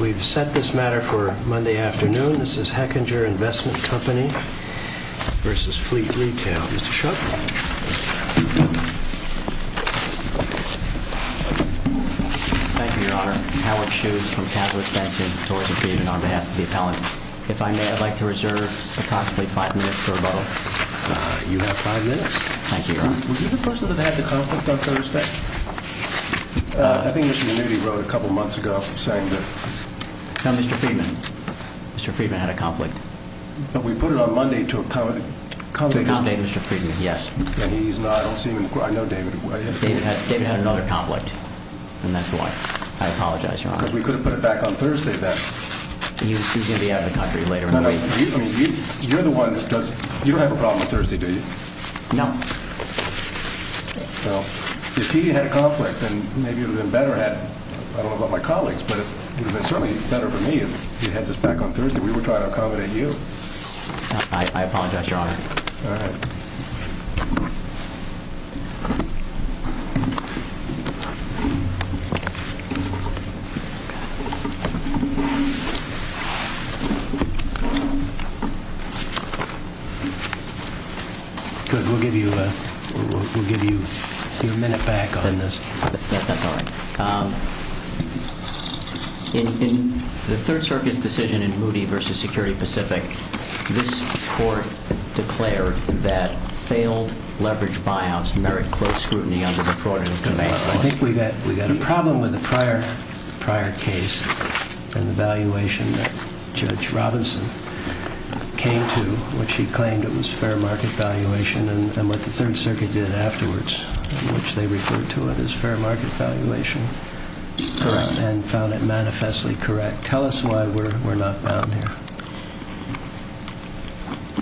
We've set this matter for Monday afternoon. This is Hechinger Investment Company versus Fleet Retail. Mr. Schuch. Thank you, Your Honor. Howard Schuch from Casual Expensive Investment Company versus Fleet Retail. Thank you, Your Honor. Mr. Friedman. Mr. Friedman had a conflict. We put it on Monday to accommodate Mr. Friedman. Yes. I know David. David had another conflict, and that's why. I apologize, Your Honor. We could have put it back on Thursday then. He's going to be out of the country later. You're the one that does. You don't have a problem with Thursday, do you? No. If he had a conflict, then maybe it would have been better had, I don't know about my colleagues, but it would have been certainly better for me if you had this back on Thursday. We were trying to accommodate you. I apologize, Your Honor. All right. Good. We'll give you a minute back on this. That's all right. In the Third Circuit's decision in Moody v. Security Pacific, this Court declared that failed leveraged buyouts merit close scrutiny under the Fraud and Evasion Lawsuit. I think we got a problem with the prior case and the valuation that Judge Robinson came to, which he claimed it was fair market valuation, and what the Third Circuit did afterwards, in and found it manifestly correct. Tell us why we're not bound here.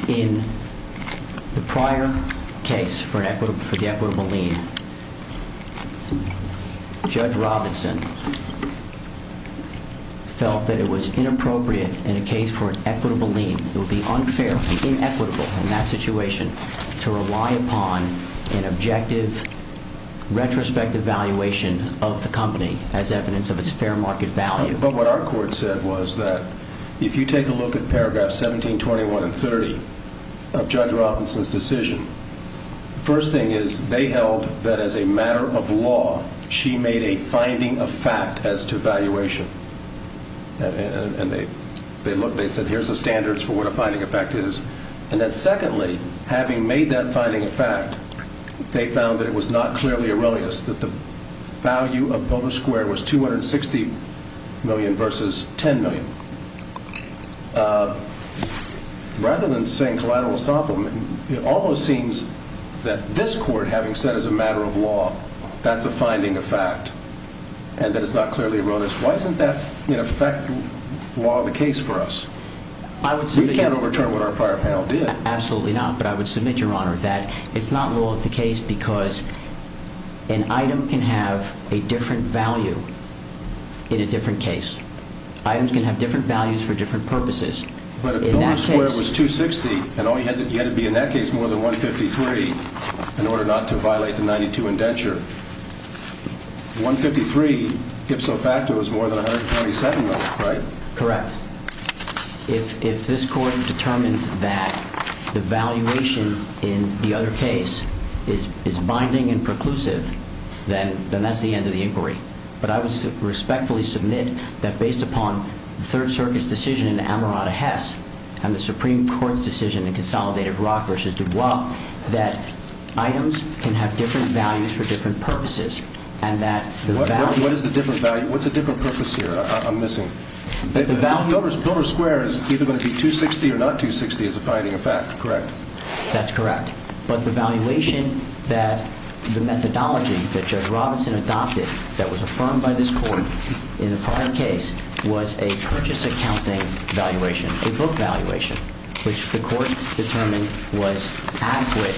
In the prior case for the equitable lien, Judge Robinson felt that it was inappropriate in a case for an equitable lien, it would be unfair, it would be inequitable in that situation, to rely upon an objective retrospective valuation of the company as evidence of its fair market value. But what our court said was that if you take a look at paragraphs 17, 21, and 30 of Judge Robinson's decision, first thing is they held that as a matter of law, she made a finding of fact as to valuation. And they said, here's the standards for what a finding of fact is. And then secondly, having made that finding of fact, they found that it was not clearly erroneous that the value of Boulder Square was $260 million versus $10 million. Rather than saying collateral estoppelment, it almost seems that this Court, having said as a matter of law, that's a finding of fact, and that it's not clearly erroneous. Why isn't that in effect the case for us? We can't overturn what our prior panel did. Absolutely not, but I would submit, Your Honor, that it's not law of the case because an item can have a different value in a different case. Items can have different values for different purposes. But if Boulder Square was $260, and you had to be in that case more than $153 in order not to violate the 92 indenture, $153 ipso facto is more than $127, right? Correct. If this Court determines that the valuation in the other case is binding and preclusive, then that's the end of the inquiry. But I would respectfully submit that based upon the Third Circuit's decision in Amarato-Hess and the Supreme Court's decision in Consolidated Brock v. Dubois, that items can have different values for different purposes, and that the value What is the different value? What's the different purpose here? I'm missing. The value Boulder Square is either going to be $260 or not $260 as a finding of fact, correct? That's correct. But the valuation that the methodology that Judge Robinson adopted that was affirmed by this Court in the prior case was a purchase accounting valuation, a book valuation, which the Court determined was adequate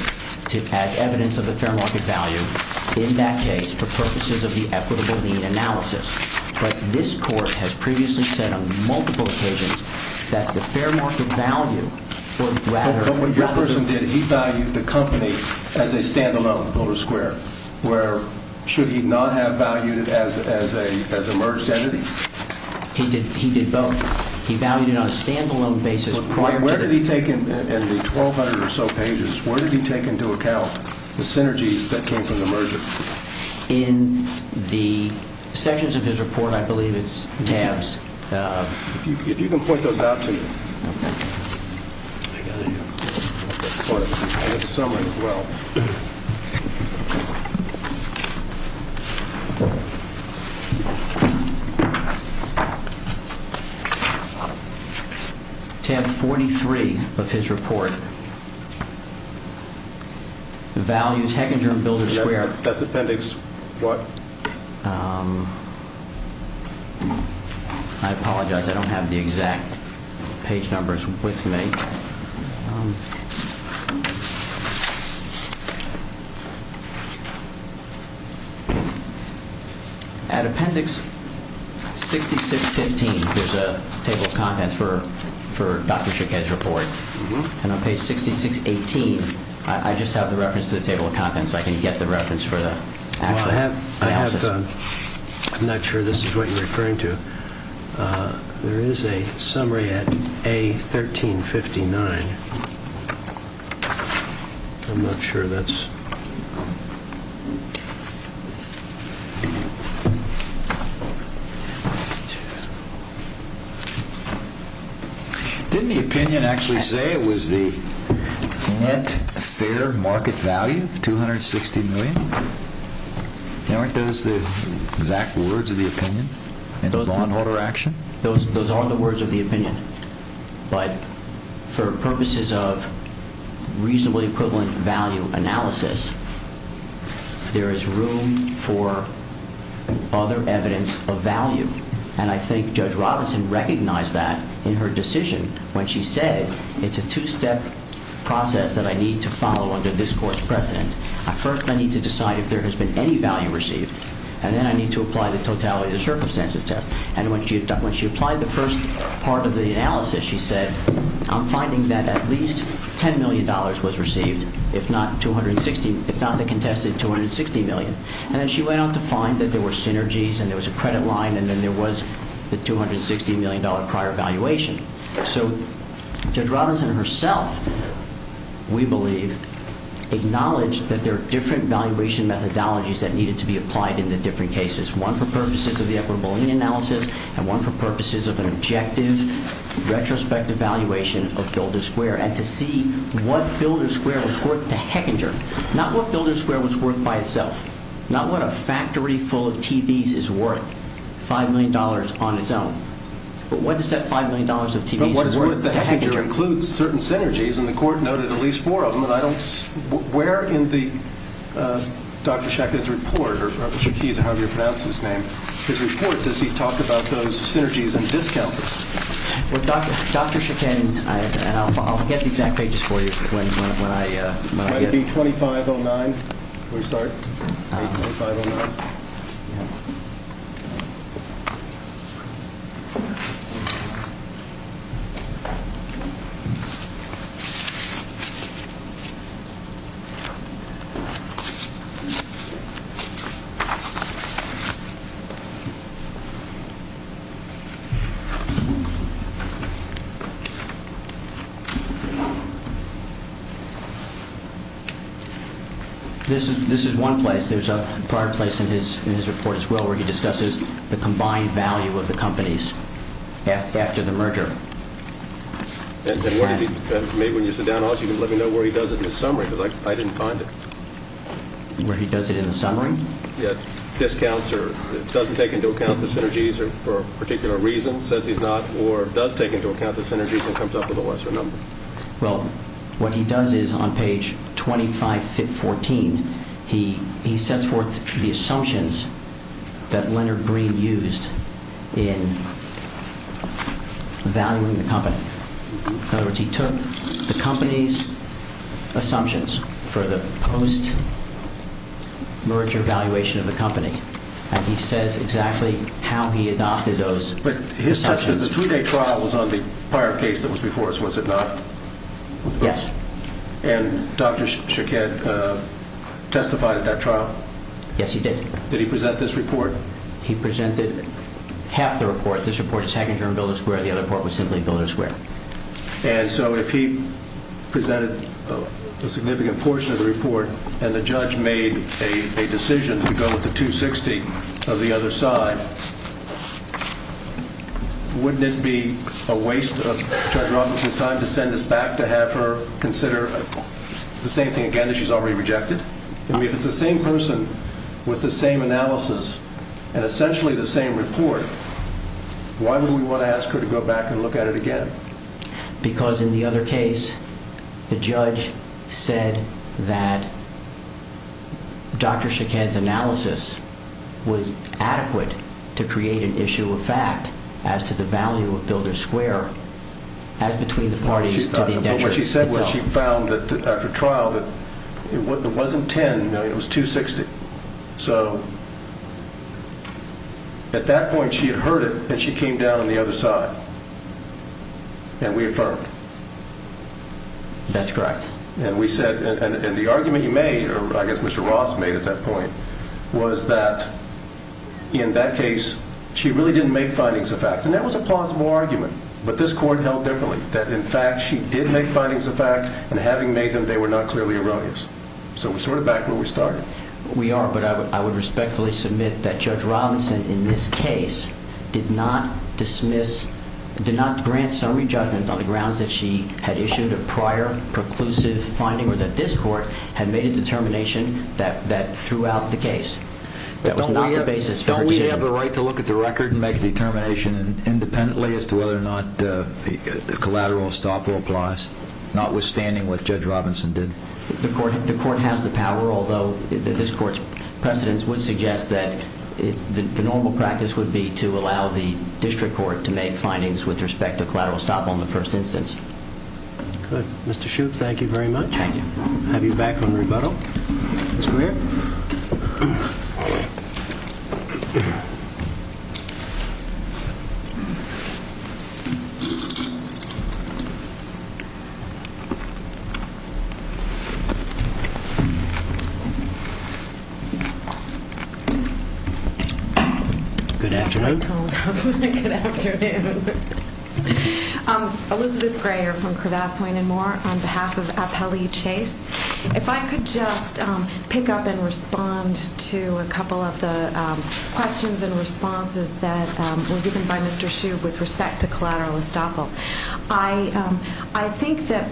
to add evidence of the fair market value in that case for purposes of the equitable need analysis. But this Court has previously said on multiple occasions that the fair market value was rather But what your person did, he valued the company as a standalone, Boulder Square, where should not have valued it as a merged entity? He did both. He valued it on a standalone basis. Where did he take in the 1,200 or so pages, where did he take into account the synergies that came from the merger? In the sections of his report, I believe it's tabs. If you can point those out to me. Tab 43 of his report. The values Heckinger and Builder Square. That's appendix what? I apologize. I don't have the exact page numbers with me. At appendix 6615, there's a table of contents for Dr. Shickhead's report. And on page 6618, I just have the reference to the table of contents. I can get the reference I'm not sure this is what you're referring to. There is a summary at A1359. I'm not sure that's what you're referring to. Didn't the opinion actually say it was the net fair market value of $260 million? Aren't those the exact words of the opinion and the law and order action? Those are the words of the opinion. But for purposes of reasonably equivalent value analysis, there is room for other evidence of value. And I think Judge Robinson recognized that in her decision when she said, it's a two-step process that I need to follow under this court's precedent. First, I need to decide if there has been any value received. And then I need to apply the totality of the circumstances test. And when she applied the first part of the analysis, she said, I'm finding that at least $10 million was received, if not the contested $260 million. And then she went on to find that there were synergies and there was a credit line and then there was the $260 million prior valuation. So Judge Robinson herself, we believe, acknowledged that there are different valuation methodologies that needed to be applied in the different cases, one for purposes of the equitable analysis and one for purposes of an objective retrospective valuation of Builder Square. And to see what Builder Square was worth to Hechinger, not what Builder Square was worth by itself, not what a factory full of TVs is worth, $5 million on its own. But what does that $5 million of TVs worth to Hechinger? But what is worth to Hechinger includes certain synergies and the court noted at least four of them. And I don't, where in the Dr. Shakin, I'll get the exact pages for you when I get it. Might it be 2509 before we start? 2509. This is, this is one place. There's a prior place in his, in his report as well where he discusses the combined value of the companies after the merger. And what does he, maybe when you sit down, you can let me know where he does it in the summary, because I didn't find it. Where he does it in the summary? Yeah. Discounts or doesn't take into account the synergies or for a particular reason, says he's not, or does take into account the synergies and comes up with a lesser number. Well, what he does is on page 2514, he, he sets forth the assumptions that Leonard Breen used in valuing the company. In other words, he took the company's assumptions for the post merger valuation of the company. And he says exactly how he adopted those. But the two-day trial was on the prior case that was before us, was it not? Yes. And Dr. Shaked testified at that trial? Yes, he did. Did he present this report? He presented half the report. This report is Hackington and Builder Square. The other part was simply Builder Square. And so if he presented a significant portion of the report and the judge made a decision to go with the 260 of the other side, wouldn't it be a waste of Judge Robinson's time to send this back to have her consider the same thing again that she's already rejected? I mean, if it's the same person with the same analysis and essentially the same report, why would we want to ask her to go back and look at it again? Because in the other case, the judge said that Dr. Shaked's analysis was adequate to create an issue of fact as to the value of Builder Square as between the parties to the indenture itself. But what she said was she found that after trial that it wasn't 10 million, it was 260. So at that point, she had heard it and she came down on the other side. And we affirmed. That's correct. And we said, and the argument you made, or I guess Mr. Ross made at that point, was that in that case, she really didn't make findings of fact. And that was a plausible argument, but this court held differently that in fact, she did make findings of fact and having made them, they were not clearly erroneous. So we're sort of back where we started. We are, but I would respectfully submit that Judge Robinson in this case did not dismiss, did not grant summary judgment on the grounds that she had issued a prior preclusive finding or that this court had made a determination that throughout the case, that was not the basis. Don't we have a right to look at the record and make a determination independently as to whether or not the collateral stopper applies, notwithstanding what Judge Robinson did? The court has the power, although this court's precedence would suggest that the normal practice would be to allow the district court to make findings with respect to collateral stop on the first instance. Good. Mr. Shoup, thank you very much. Have you back on rebuttal? Good afternoon. Elizabeth Greyer from Cravath, Swain & Moore on behalf of Appellee Chase. If I could just pick up and respond to a couple of the questions and responses that were given by Mr. Shoup with respect to collateral estoppel. I think that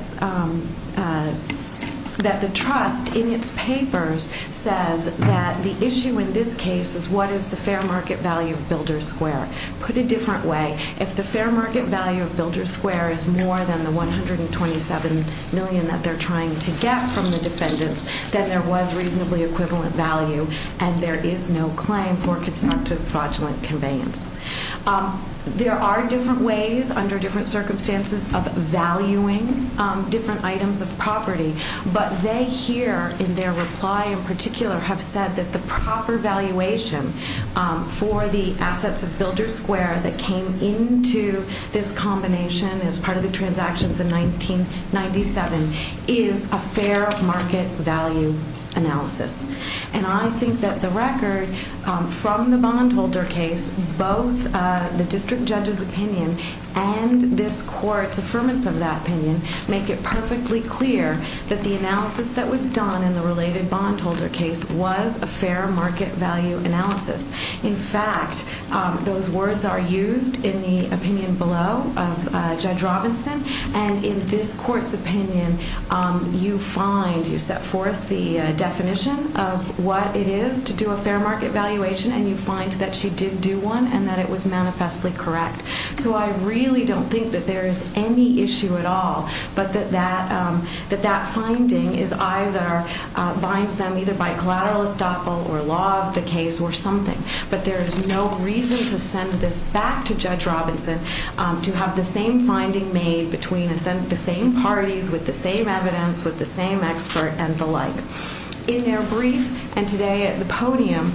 the trust in its papers says that the issue in this case is what is the fair market value of Builders Square. Put a different way, if the fair market value of Builders Square is more than the $127 million that they're trying to get from the defendants, then there was reasonably equivalent value and there is no claim for constructive fraudulent conveyance. There are different ways under different circumstances of valuing different items of have said that the proper valuation for the assets of Builders Square that came into this combination as part of the transactions in 1997 is a fair market value analysis. I think that the record from the bondholder case, both the district judge's opinion and this court's affirmance of that opinion make it perfectly clear that the analysis that was in the related bondholder case was a fair market value analysis. In fact, those words are used in the opinion below of Judge Robinson and in this court's opinion, you find, you set forth the definition of what it is to do a fair market valuation and you find that she did do one and that it was manifestly correct. So I really don't think that there is any issue at all, but that that finding is either binds them either by collateral estoppel or law of the case or something, but there is no reason to send this back to Judge Robinson to have the same finding made between the same parties with the same evidence, with the same expert and the like. In their brief and today at the podium,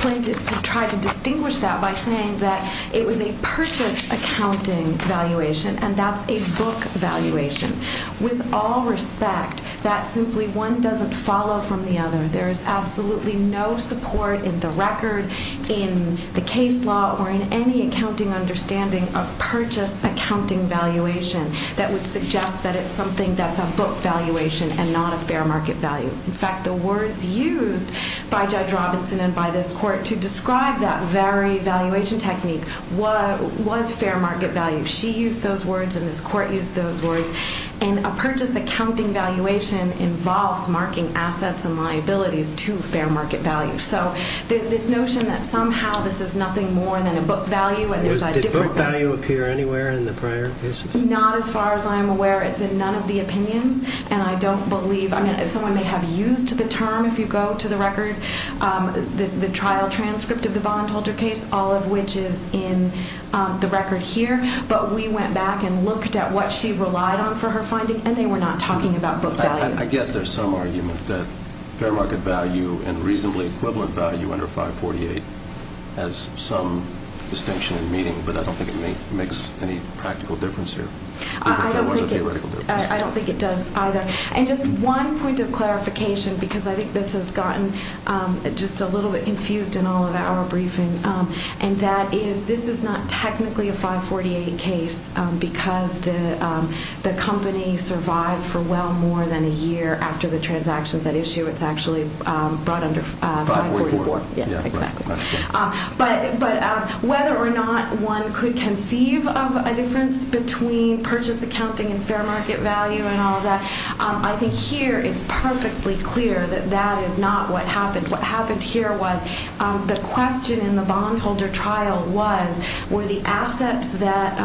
plaintiffs have tried to distinguish that by saying that it was a purchase accounting valuation and that's a book valuation. With all respect, that simply one doesn't follow from the other. There is absolutely no support in the record, in the case law or in any accounting understanding of purchase accounting valuation that would suggest that it's something that's a book valuation and not a fair market value. In fact, the words used by Judge Robinson and by this court to describe that very valuation technique was fair market value. She used those words and this court used those words and a purchase accounting valuation involves marking assets and liabilities to fair market value. So this notion that somehow this is nothing more than a book value and there's a different value. Did book value appear anywhere in the prior cases? Not as far as I'm aware. It's in none of the opinions and I don't believe, I mean if someone may have used the record, the trial transcript of the bondholder case, all of which is in the record here, but we went back and looked at what she relied on for her finding and they were not talking about book value. I guess there's some argument that fair market value and reasonably equivalent value under 548 has some distinction in meaning, but I don't think it makes any practical difference here. I don't think it does either. And just one point of clarification because I think this has gotten just a little bit confused in all of our briefing and that is this is not technically a 548 case because the company survived for well more than a year after the transactions at issue. It's actually brought under 544. Yeah, exactly. But whether or not one could conceive of a difference between purchase accounting and I think here it's perfectly clear that that is not what happened. What happened here was the question in the bondholder trial was were the assets that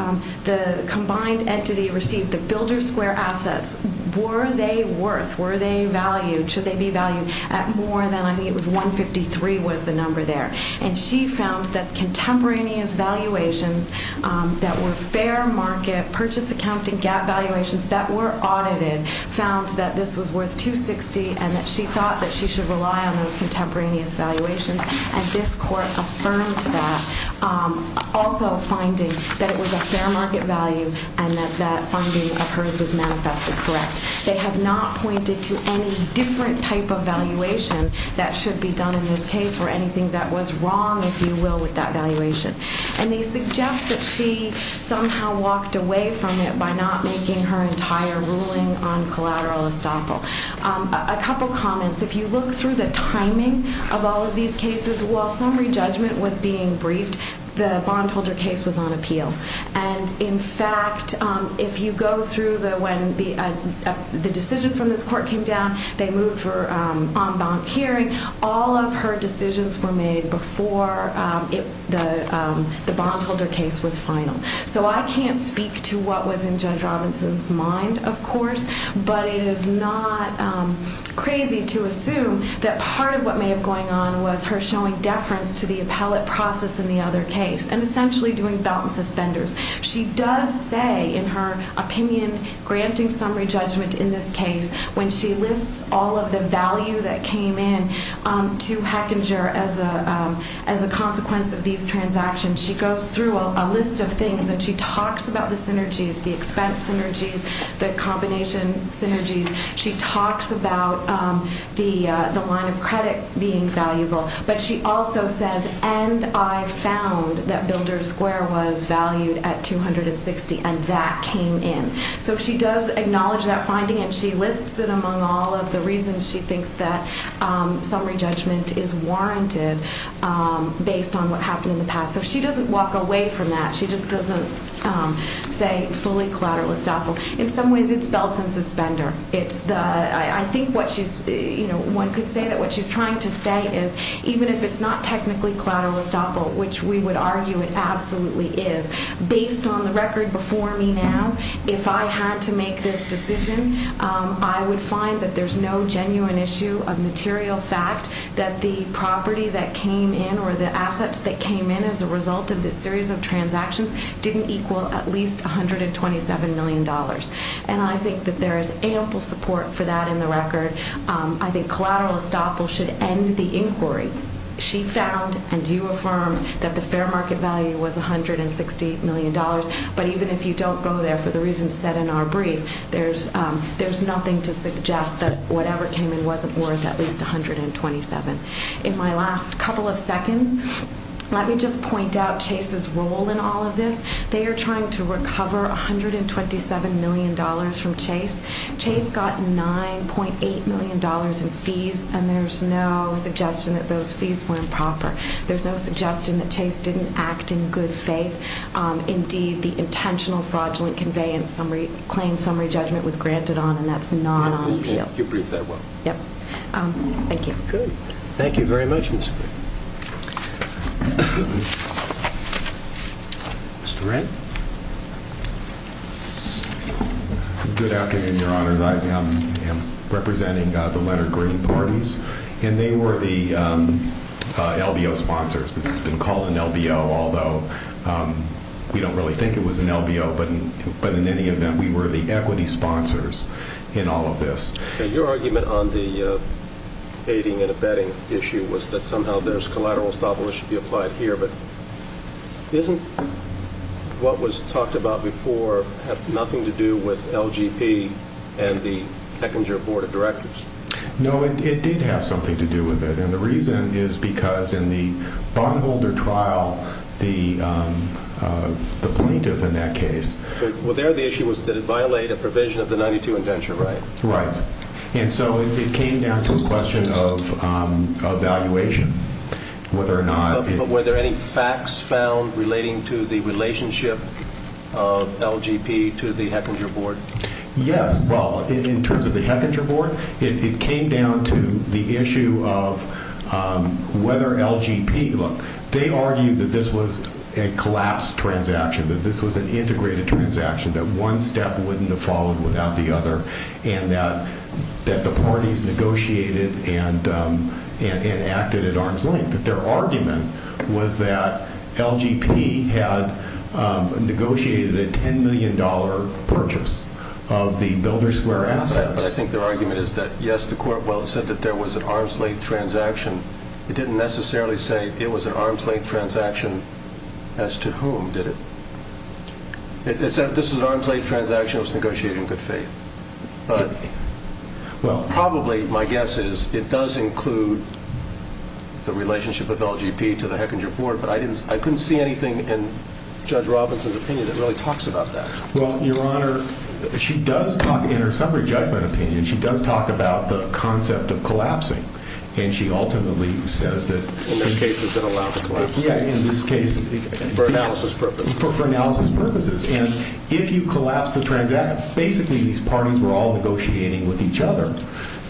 the combined entity received, the builder square assets, were they worth, were they valued, should they be valued at more than I think it was 153 was the number there. And she found that contemporaneous valuations that were fair market, purchase accounting gap valuations that were audited found that this was worth 260 and that she thought that she should rely on those contemporaneous valuations and this court affirmed that. Also finding that it was a fair market value and that that funding of hers was manifested correct. They have not pointed to any different type of valuation that should be done in this case or anything that was wrong, if you will, with that valuation. And they suggest that she somehow walked away from it by not making her entire ruling on collateral estoppel. A couple comments. If you look through the timing of all of these cases, while summary judgment was being briefed, the bondholder case was on appeal. And in fact, if you go through the when the decision from this court came down, they moved on bond hearing. All of her decisions were made before the bondholder case was final. So I can't speak to what was in Judge Robinson's mind, of course, but it is not crazy to assume that part of what may have going on was her showing deference to the appellate process in the other case and essentially doing belt and suspenders. She does say in her opinion, granting summary judgment in this case, when she lists all of the value that came in to Hechinger as a consequence of these transactions, she goes through a list of things and she talks about the synergies, the expense synergies, the combination synergies. She talks about the line of credit being valuable, but she also says, and I found that builder square was valued at 260 and that came in. So she does acknowledge that finding and she lists it among all of the reasons she thinks that summary judgment is warranted based on what happened in the past. So she doesn't walk away from that. She just doesn't say fully collateral estoppel. In some ways it's belts and suspender. It's the, I think what she's, you know, one could say that what she's trying to say is even if it's not technically collateral estoppel, which we would argue it absolutely is, based on the record before me now, if I had to make this decision, I would find that there's no genuine issue of material fact that the property that came in or the assets that came in as a result of this series of transactions didn't equal at least $127 million. And I think that there is ample support for that in the record. I think collateral estoppel should end the inquiry. She found and you affirmed that the fair market value was $168 million. But even if you don't go there for the reasons said in our brief, there's nothing to suggest that whatever came in wasn't worth at least $127 million. In my last couple of seconds, let me just point out Chase's role in all of this. They are trying to recover $127 million from Chase. Chase got $9.8 million in fees and there's no suggestion that those fees were improper. There's no suggestion that Chase didn't act in good faith. Indeed, the intentional fraudulent conveyance claim summary judgment was granted on and that's not on appeal. You briefed that well. Yep. Thank you. Good. Thank you very much. Mr. Wren? Good afternoon, Your Honor. I am representing the Leonard Green parties and they were the LBO sponsors. This has been called an LBO, although we don't really think it was an LBO. But in any event, we were the equity sponsors in all of this. Your argument on the aiding and abetting issue was that somehow there's collateral that should be applied here. But isn't what was talked about before have nothing to do with LGP and the Hechinger Board of Directors? No, it did have something to do with it. And the reason is because in the bondholder trial, the plaintiff in that case. Well, there the issue was that it violated a provision of the 92 indenture, right? Right. And so it came down to a question of evaluation. Whether or not... But were there any facts found relating to the relationship of LGP to the Hechinger Board? Yes. Well, in terms of the Hechinger Board, it came down to the issue of whether LGP... Look, they argued that this was a collapsed transaction, that this was an integrated transaction, that one step wouldn't have followed without the other. And that the parties negotiated and acted at arm's length. But their argument was that LGP had negotiated a $10 million purchase of the Builder Square assets. But I think their argument is that, yes, the court... Well, it said that there was an arm's length transaction. It didn't necessarily say it was an arm's length transaction as to whom, did it? This was an arm's length transaction. It was negotiated in good faith. But probably, my guess is, it does include the relationship with LGP to the Hechinger Board. But I couldn't see anything in Judge Robinson's opinion that really talks about that. Well, Your Honor, she does talk... In her summary judgment opinion, she does talk about the concept of collapsing. And she ultimately says that... In this case, it's been allowed to collapse. Yeah, in this case... For analysis purposes. For analysis purposes. And if you collapse the transaction... Basically, these parties were all negotiating with each other.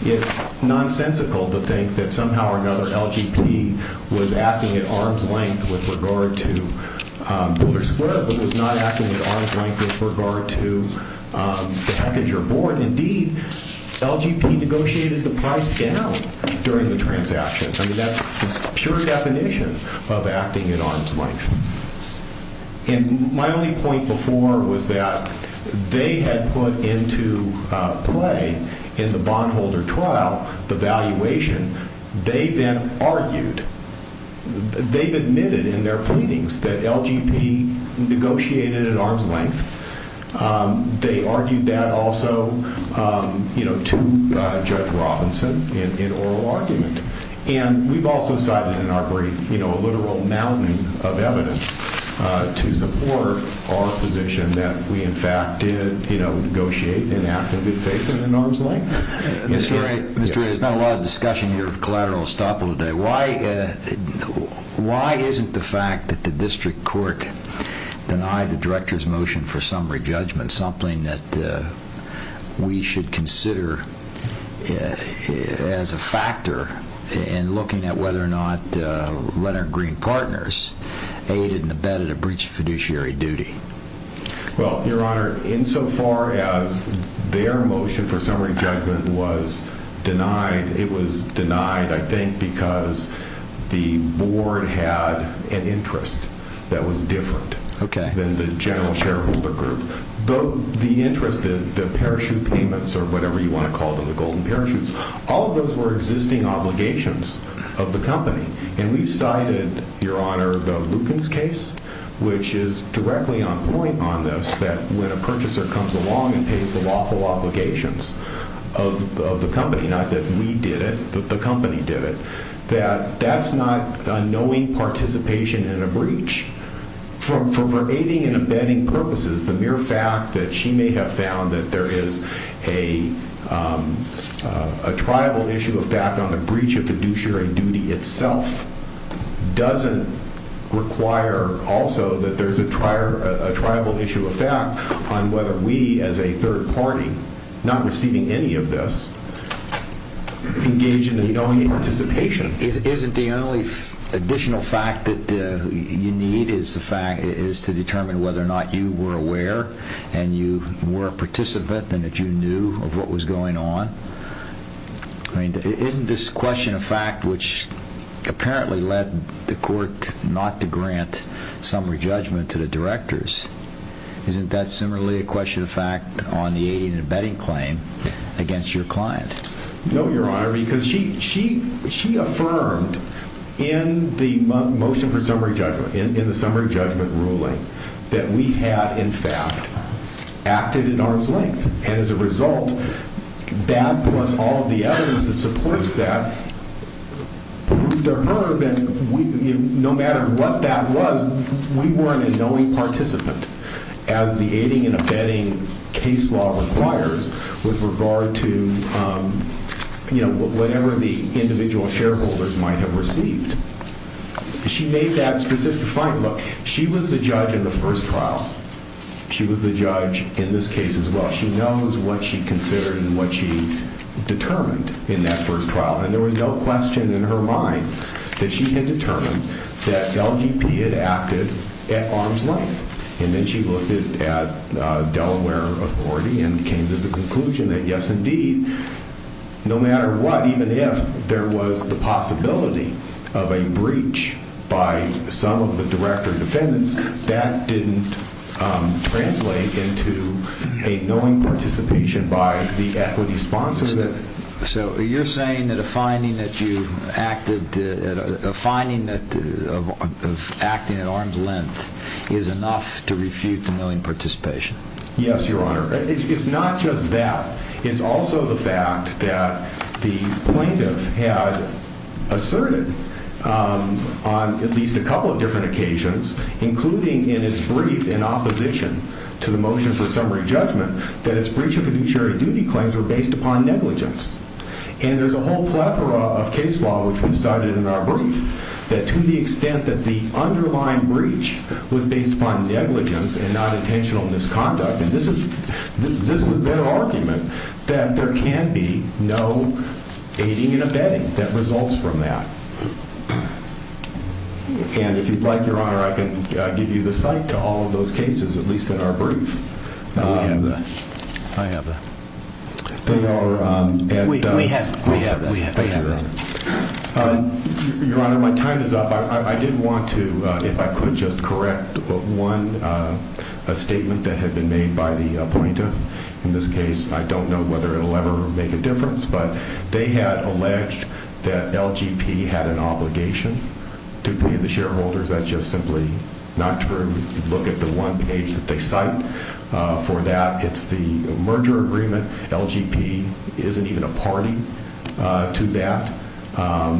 It's nonsensical to think that somehow or another, LGP was acting at arm's length with regard to Builder Square, but was not acting at arm's length with regard to the Hechinger Board. Indeed, LGP negotiated the price down during the transaction. I mean, that's the pure definition of acting at arm's length. And my only point before was that they had put into play, in the bondholder trial, the valuation. They then argued, they've admitted in their pleadings that LGP negotiated at arm's length. They argued that also to Judge Robinson in oral argument. And we've also cited in our brief, a literal mountain of evidence to support our position that we, in fact, did negotiate and acted at arm's length. Mr. Wright, there's been a lot of discussion here of collateral estoppel today. Why isn't the fact that the district court denied the director's motion for summary judgment something that we should consider as a factor in looking at whether or not Red and Green partners aided and abetted a breach of fiduciary duty? Well, Your Honor, insofar as their motion for summary judgment was denied, it was denied, I think, because the board had an interest that was different than the general shareholder group. The interest, the parachute payments, or whatever you want to call them, the golden parachutes, all of those were existing obligations of the company. And we've cited, Your Honor, the Lukens case, which is directly on point on this, that when a purchaser comes along and pays the lawful obligations of the company, not that we did it, but the company did it, that that's not a knowing participation in a breach. From her aiding and abetting purposes, the mere fact that she may have found that there is a triable issue of fact on the breach of fiduciary duty itself doesn't require also that there's a triable issue of fact on whether we, as a third party, not receiving any of this, engage in a knowing participation. Isn't the only additional fact that you need is to determine whether or not you were aware and you were a participant and that you knew of what was going on? Isn't this question of fact, which apparently led the court not to grant summary judgment to the directors, isn't that similarly a question of fact on the aiding and abetting claim against your client? No, Your Honor, because she affirmed in the motion for summary judgment, in the summary judgment ruling, that we had in fact acted in arm's length. And as a result, that plus all of the evidence that supports that proved to her that no matter what that was, we weren't a knowing participant as the aiding and abetting case law requires with regard to whatever the individual shareholders might have received. She made that specific finding. Look, she was the judge in the first trial. She was the judge in this case as well. She knows what she considered and what she determined in that first trial. And there was no question in her mind that she had determined that LGP had acted at arm's length. And then she looked at Delaware Authority and came to the conclusion that yes, indeed, no matter what, even if there was the possibility of a breach by some of the director defendants, that didn't translate into a knowing participation by the equity sponsors. So you're saying that a finding of acting at arm's length is enough to refute the knowing participation? Yes, Your Honor. It's not just that. It's also the fact that the plaintiff had asserted on at least a couple of different occasions, including in his brief in opposition to the motion for summary judgment, that his case was based upon negligence. And there's a whole plethora of case law, which we've cited in our brief, that to the extent that the underlying breach was based upon negligence and not intentional misconduct, and this was their argument, that there can be no aiding and abetting that results from that. And if you'd like, Your Honor, I can give you the site to all of those cases, at least in our brief. We have that. I have that. Your Honor, my time is up. I did want to, if I could, just correct one statement that had been made by the plaintiff in this case. I don't know whether it'll ever make a difference, but they had alleged that LGP had an obligation to pay the shareholders. That's just simply not true. Look at the one page that they cite. For that, it's the merger agreement. LGP isn't even a party to that.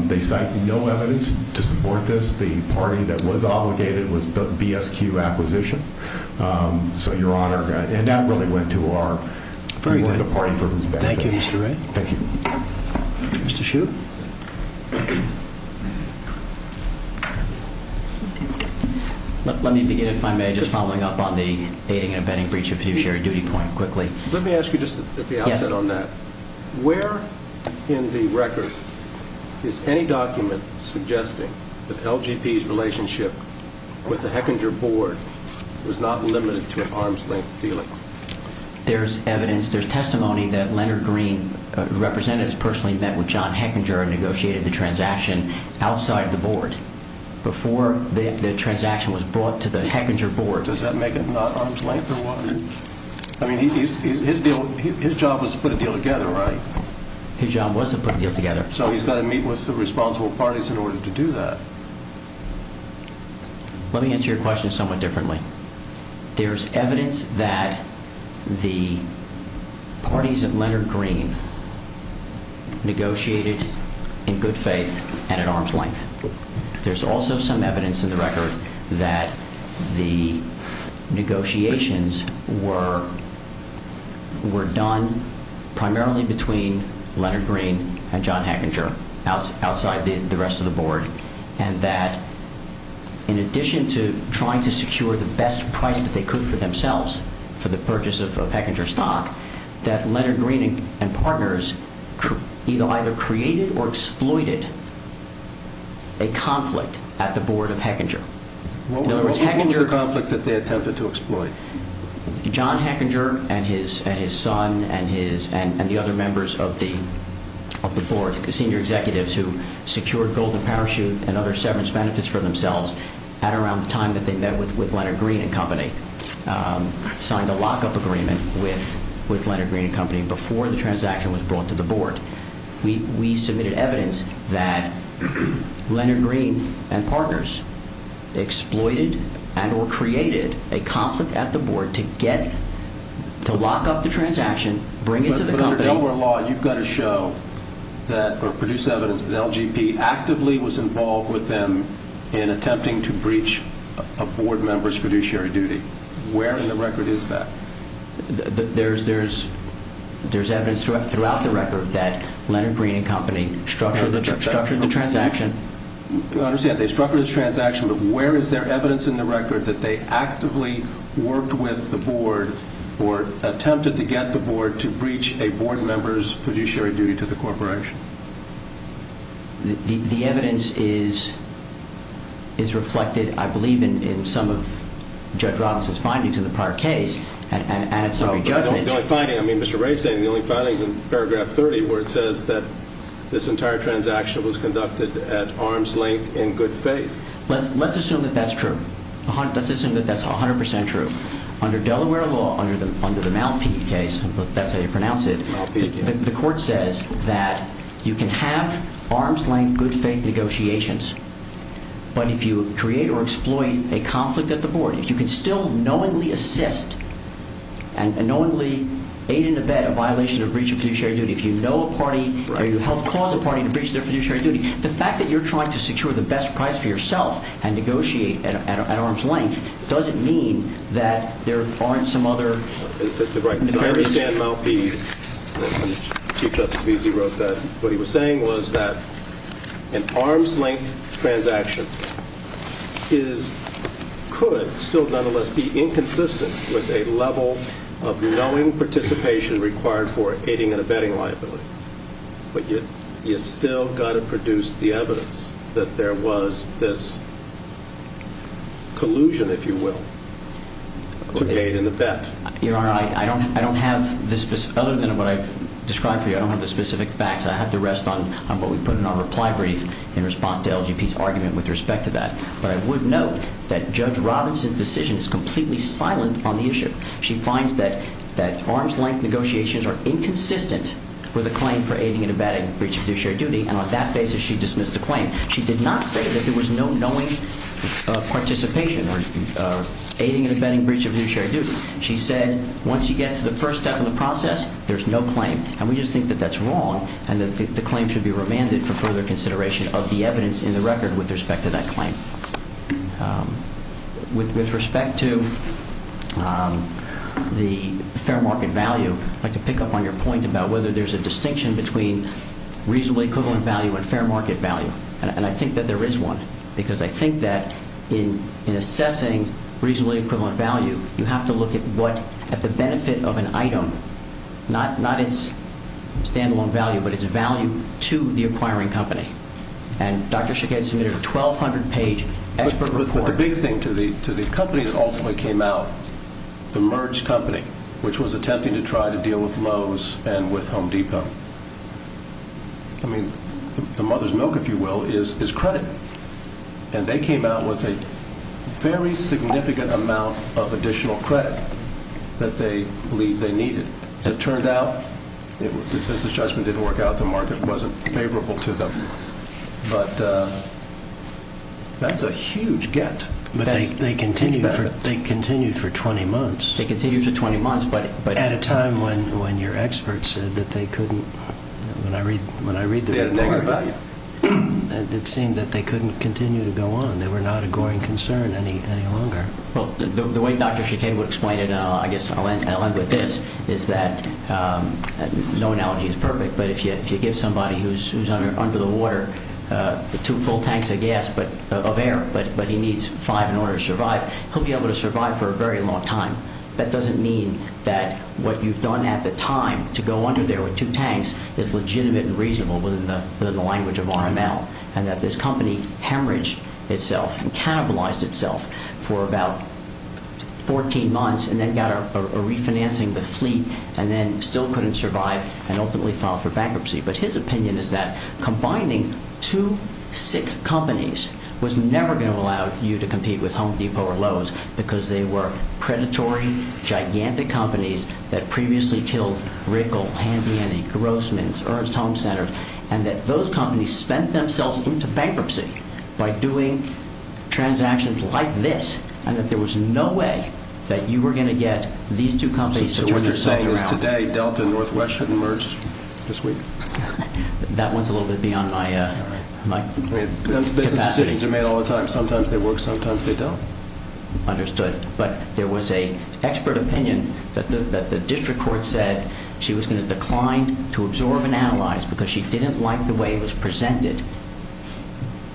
They cite no evidence to support this. The party that was obligated was BSQ Acquisition. So, Your Honor, and that really went to our party for whose benefit. Thank you, Mr. Wray. Thank you. Mr. Hsu. Let me begin, if I may, just following up on the aiding and abetting breach of fiduciary duty point quickly. Let me ask you just at the outset on that. Where in the record is any document suggesting that LGP's relationship with the Hechinger board was not limited to an arm's length dealings? There's evidence, there's testimony that Leonard Green, the representatives personally met with John Hechinger and negotiated the transaction outside the board. Before the transaction was brought to the Hechinger board. Does that make it not arm's length or what? I mean, his job was to put a deal together, right? His job was to put a deal together. So he's got to meet with the responsible parties in order to do that. Let me answer your question somewhat differently. There's evidence that the parties of Leonard Green negotiated in good faith and at arm's length. There's also some evidence in the record that the negotiations were done primarily between Leonard Green and John Hechinger outside the rest of the board. And that in addition to trying to secure the best price that they could for themselves for the purchase of Hechinger stock, that Leonard Green and partners either created or exploited a conflict at the board of Hechinger. What was the conflict that they attempted to exploit? John Hechinger and his son and the other members of the board, the senior executives who secured Golden Parachute and other severance benefits for themselves at around the time that they met with Leonard Green and company, signed a lockup agreement with Leonard Green and company before the transaction was brought to the board. We submitted evidence that Leonard Green and partners exploited and or created a conflict at the board to get to lock up the transaction, bring it to the company. Under Delaware law, you've got to show that or produce evidence that LGP actively was involved with them in attempting to breach a board member's fiduciary duty. Where in the record is that? There's, there's, there's evidence throughout the record that Leonard Green and company structured, structured the transaction. Understand they structured this transaction, but where is there evidence in the record that they actively worked with the board or attempted to get the board to breach a board member's fiduciary duty to the corporation? The evidence is, is reflected, I believe, in some of Judge Robinson's findings in the prior case and, and, and it's only judgment. The only finding, I mean, Mr. Ray's saying the only findings in paragraph 30 where it says that this entire transaction was conducted at arm's length in good faith. Let's, let's assume that that's true. Let's assume that that's 100% true. Under Delaware law, under the, under the Malpeque case, that's how you pronounce it. The court says that you can have arm's length, good faith negotiations, but if you create or exploit a conflict at the board, if you can still knowingly assist and knowingly aid in the bed a violation of breach of fiduciary duty, if you know a party or you help cause a party to breach their fiduciary duty, the fact that you're trying to secure the best price for yourself and negotiate at, at, at arm's length doesn't mean that there aren't some other. That's right. I understand Malpeque, Chief Justice Veazey wrote that. What he was saying was that an arm's length transaction is, could still nonetheless be inconsistent with a level of knowing participation required for aiding and abetting liability. But you, you still got to produce the evidence that there was this collusion, if you will, to aid in the bet. Your Honor, I don't, I don't have the specific, other than what I've described for you, I don't have the specific facts. I have to rest on what we put in our reply brief in response to LGP's argument with respect to that. But I would note that Judge Robinson's decision is completely silent on the issue. She finds that, that arm's length negotiations are inconsistent with a claim for aiding and abetting breach of fiduciary duty. And on that basis, she dismissed the claim. She did not say that there was no knowing participation or aiding and abetting breach of fiduciary duty. She said, once you get to the first step in the process, there's no claim. And we just think that that's wrong, and that the claim should be remanded for further consideration of the evidence in the record with respect to that claim. With respect to the fair market value, I'd like to pick up on your point about whether there's a distinction between reasonably equivalent value and fair market value. And I think that there is one. Because I think that in assessing reasonably equivalent value, you have to look at what, at the benefit of an item, not its stand-alone value, but its value to the acquiring company. And Dr. Shekhead submitted a 1,200-page expert report. But the big thing to the company that ultimately came out, the merged company, which was attempting to try to deal with Lowe's and with Home Depot, I mean, the mother's milk, if you will, is credit. And they came out with a very significant amount of additional credit that they believe they needed. As it turned out, the business judgment didn't work out. The market wasn't favorable to them. But that's a huge get. But they continued for 20 months. They continued for 20 months. But at a time when your expert said that they couldn't, when I read the report, it seemed that they couldn't continue to go on. They were not a growing concern any longer. Well, the way Dr. Shekhead would explain it, I guess I'll end with this, is that, no analogy is perfect, but if you give somebody who's under the water two full tanks of gas, of air, but he needs five in order to survive, he'll be able to survive for a very long time. That doesn't mean that what you've done at the time to go under there with two tanks is legitimate and reasonable within the language of RML. And that this company hemorrhaged itself and cannibalized itself for about 14 months, and then got a refinancing with Fleet, and then still couldn't survive, and ultimately filed for bankruptcy. But his opinion is that combining two sick companies was never going to allow you to compete with Home Depot or Lowe's, because they were predatory, gigantic companies that previously killed Rickle, Handy Annie, Grossman's, Ernst Home Center, and that those companies spent themselves into bankruptcy by doing transactions like this, and that there was no way that you were going to get these two companies to turn themselves around. So what you're saying is today Delta and Northwest shouldn't merge this week? That one's a little bit beyond my capacity. Business decisions are made all the time. Sometimes they work, sometimes they don't. Understood. But there was an expert opinion that the district court said she was going to decline to absorb and analyze because she didn't like the way it was presented.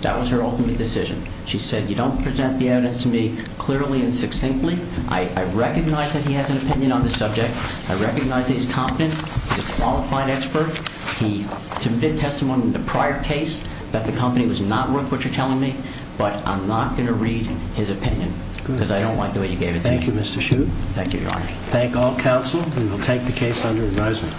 That was her ultimate decision. She said, you don't present the evidence to me clearly and succinctly. I recognize that he has an opinion on this subject. I recognize that he's competent. He's a qualified expert. He submitted testimony in the prior case that the company was not worth what you're telling me. But I'm not going to read his opinion because I don't like the way you gave it to me. Thank you, Mr. Shute. Thank you, Your Honor. Thank all counsel. And we'll take the case under advisement.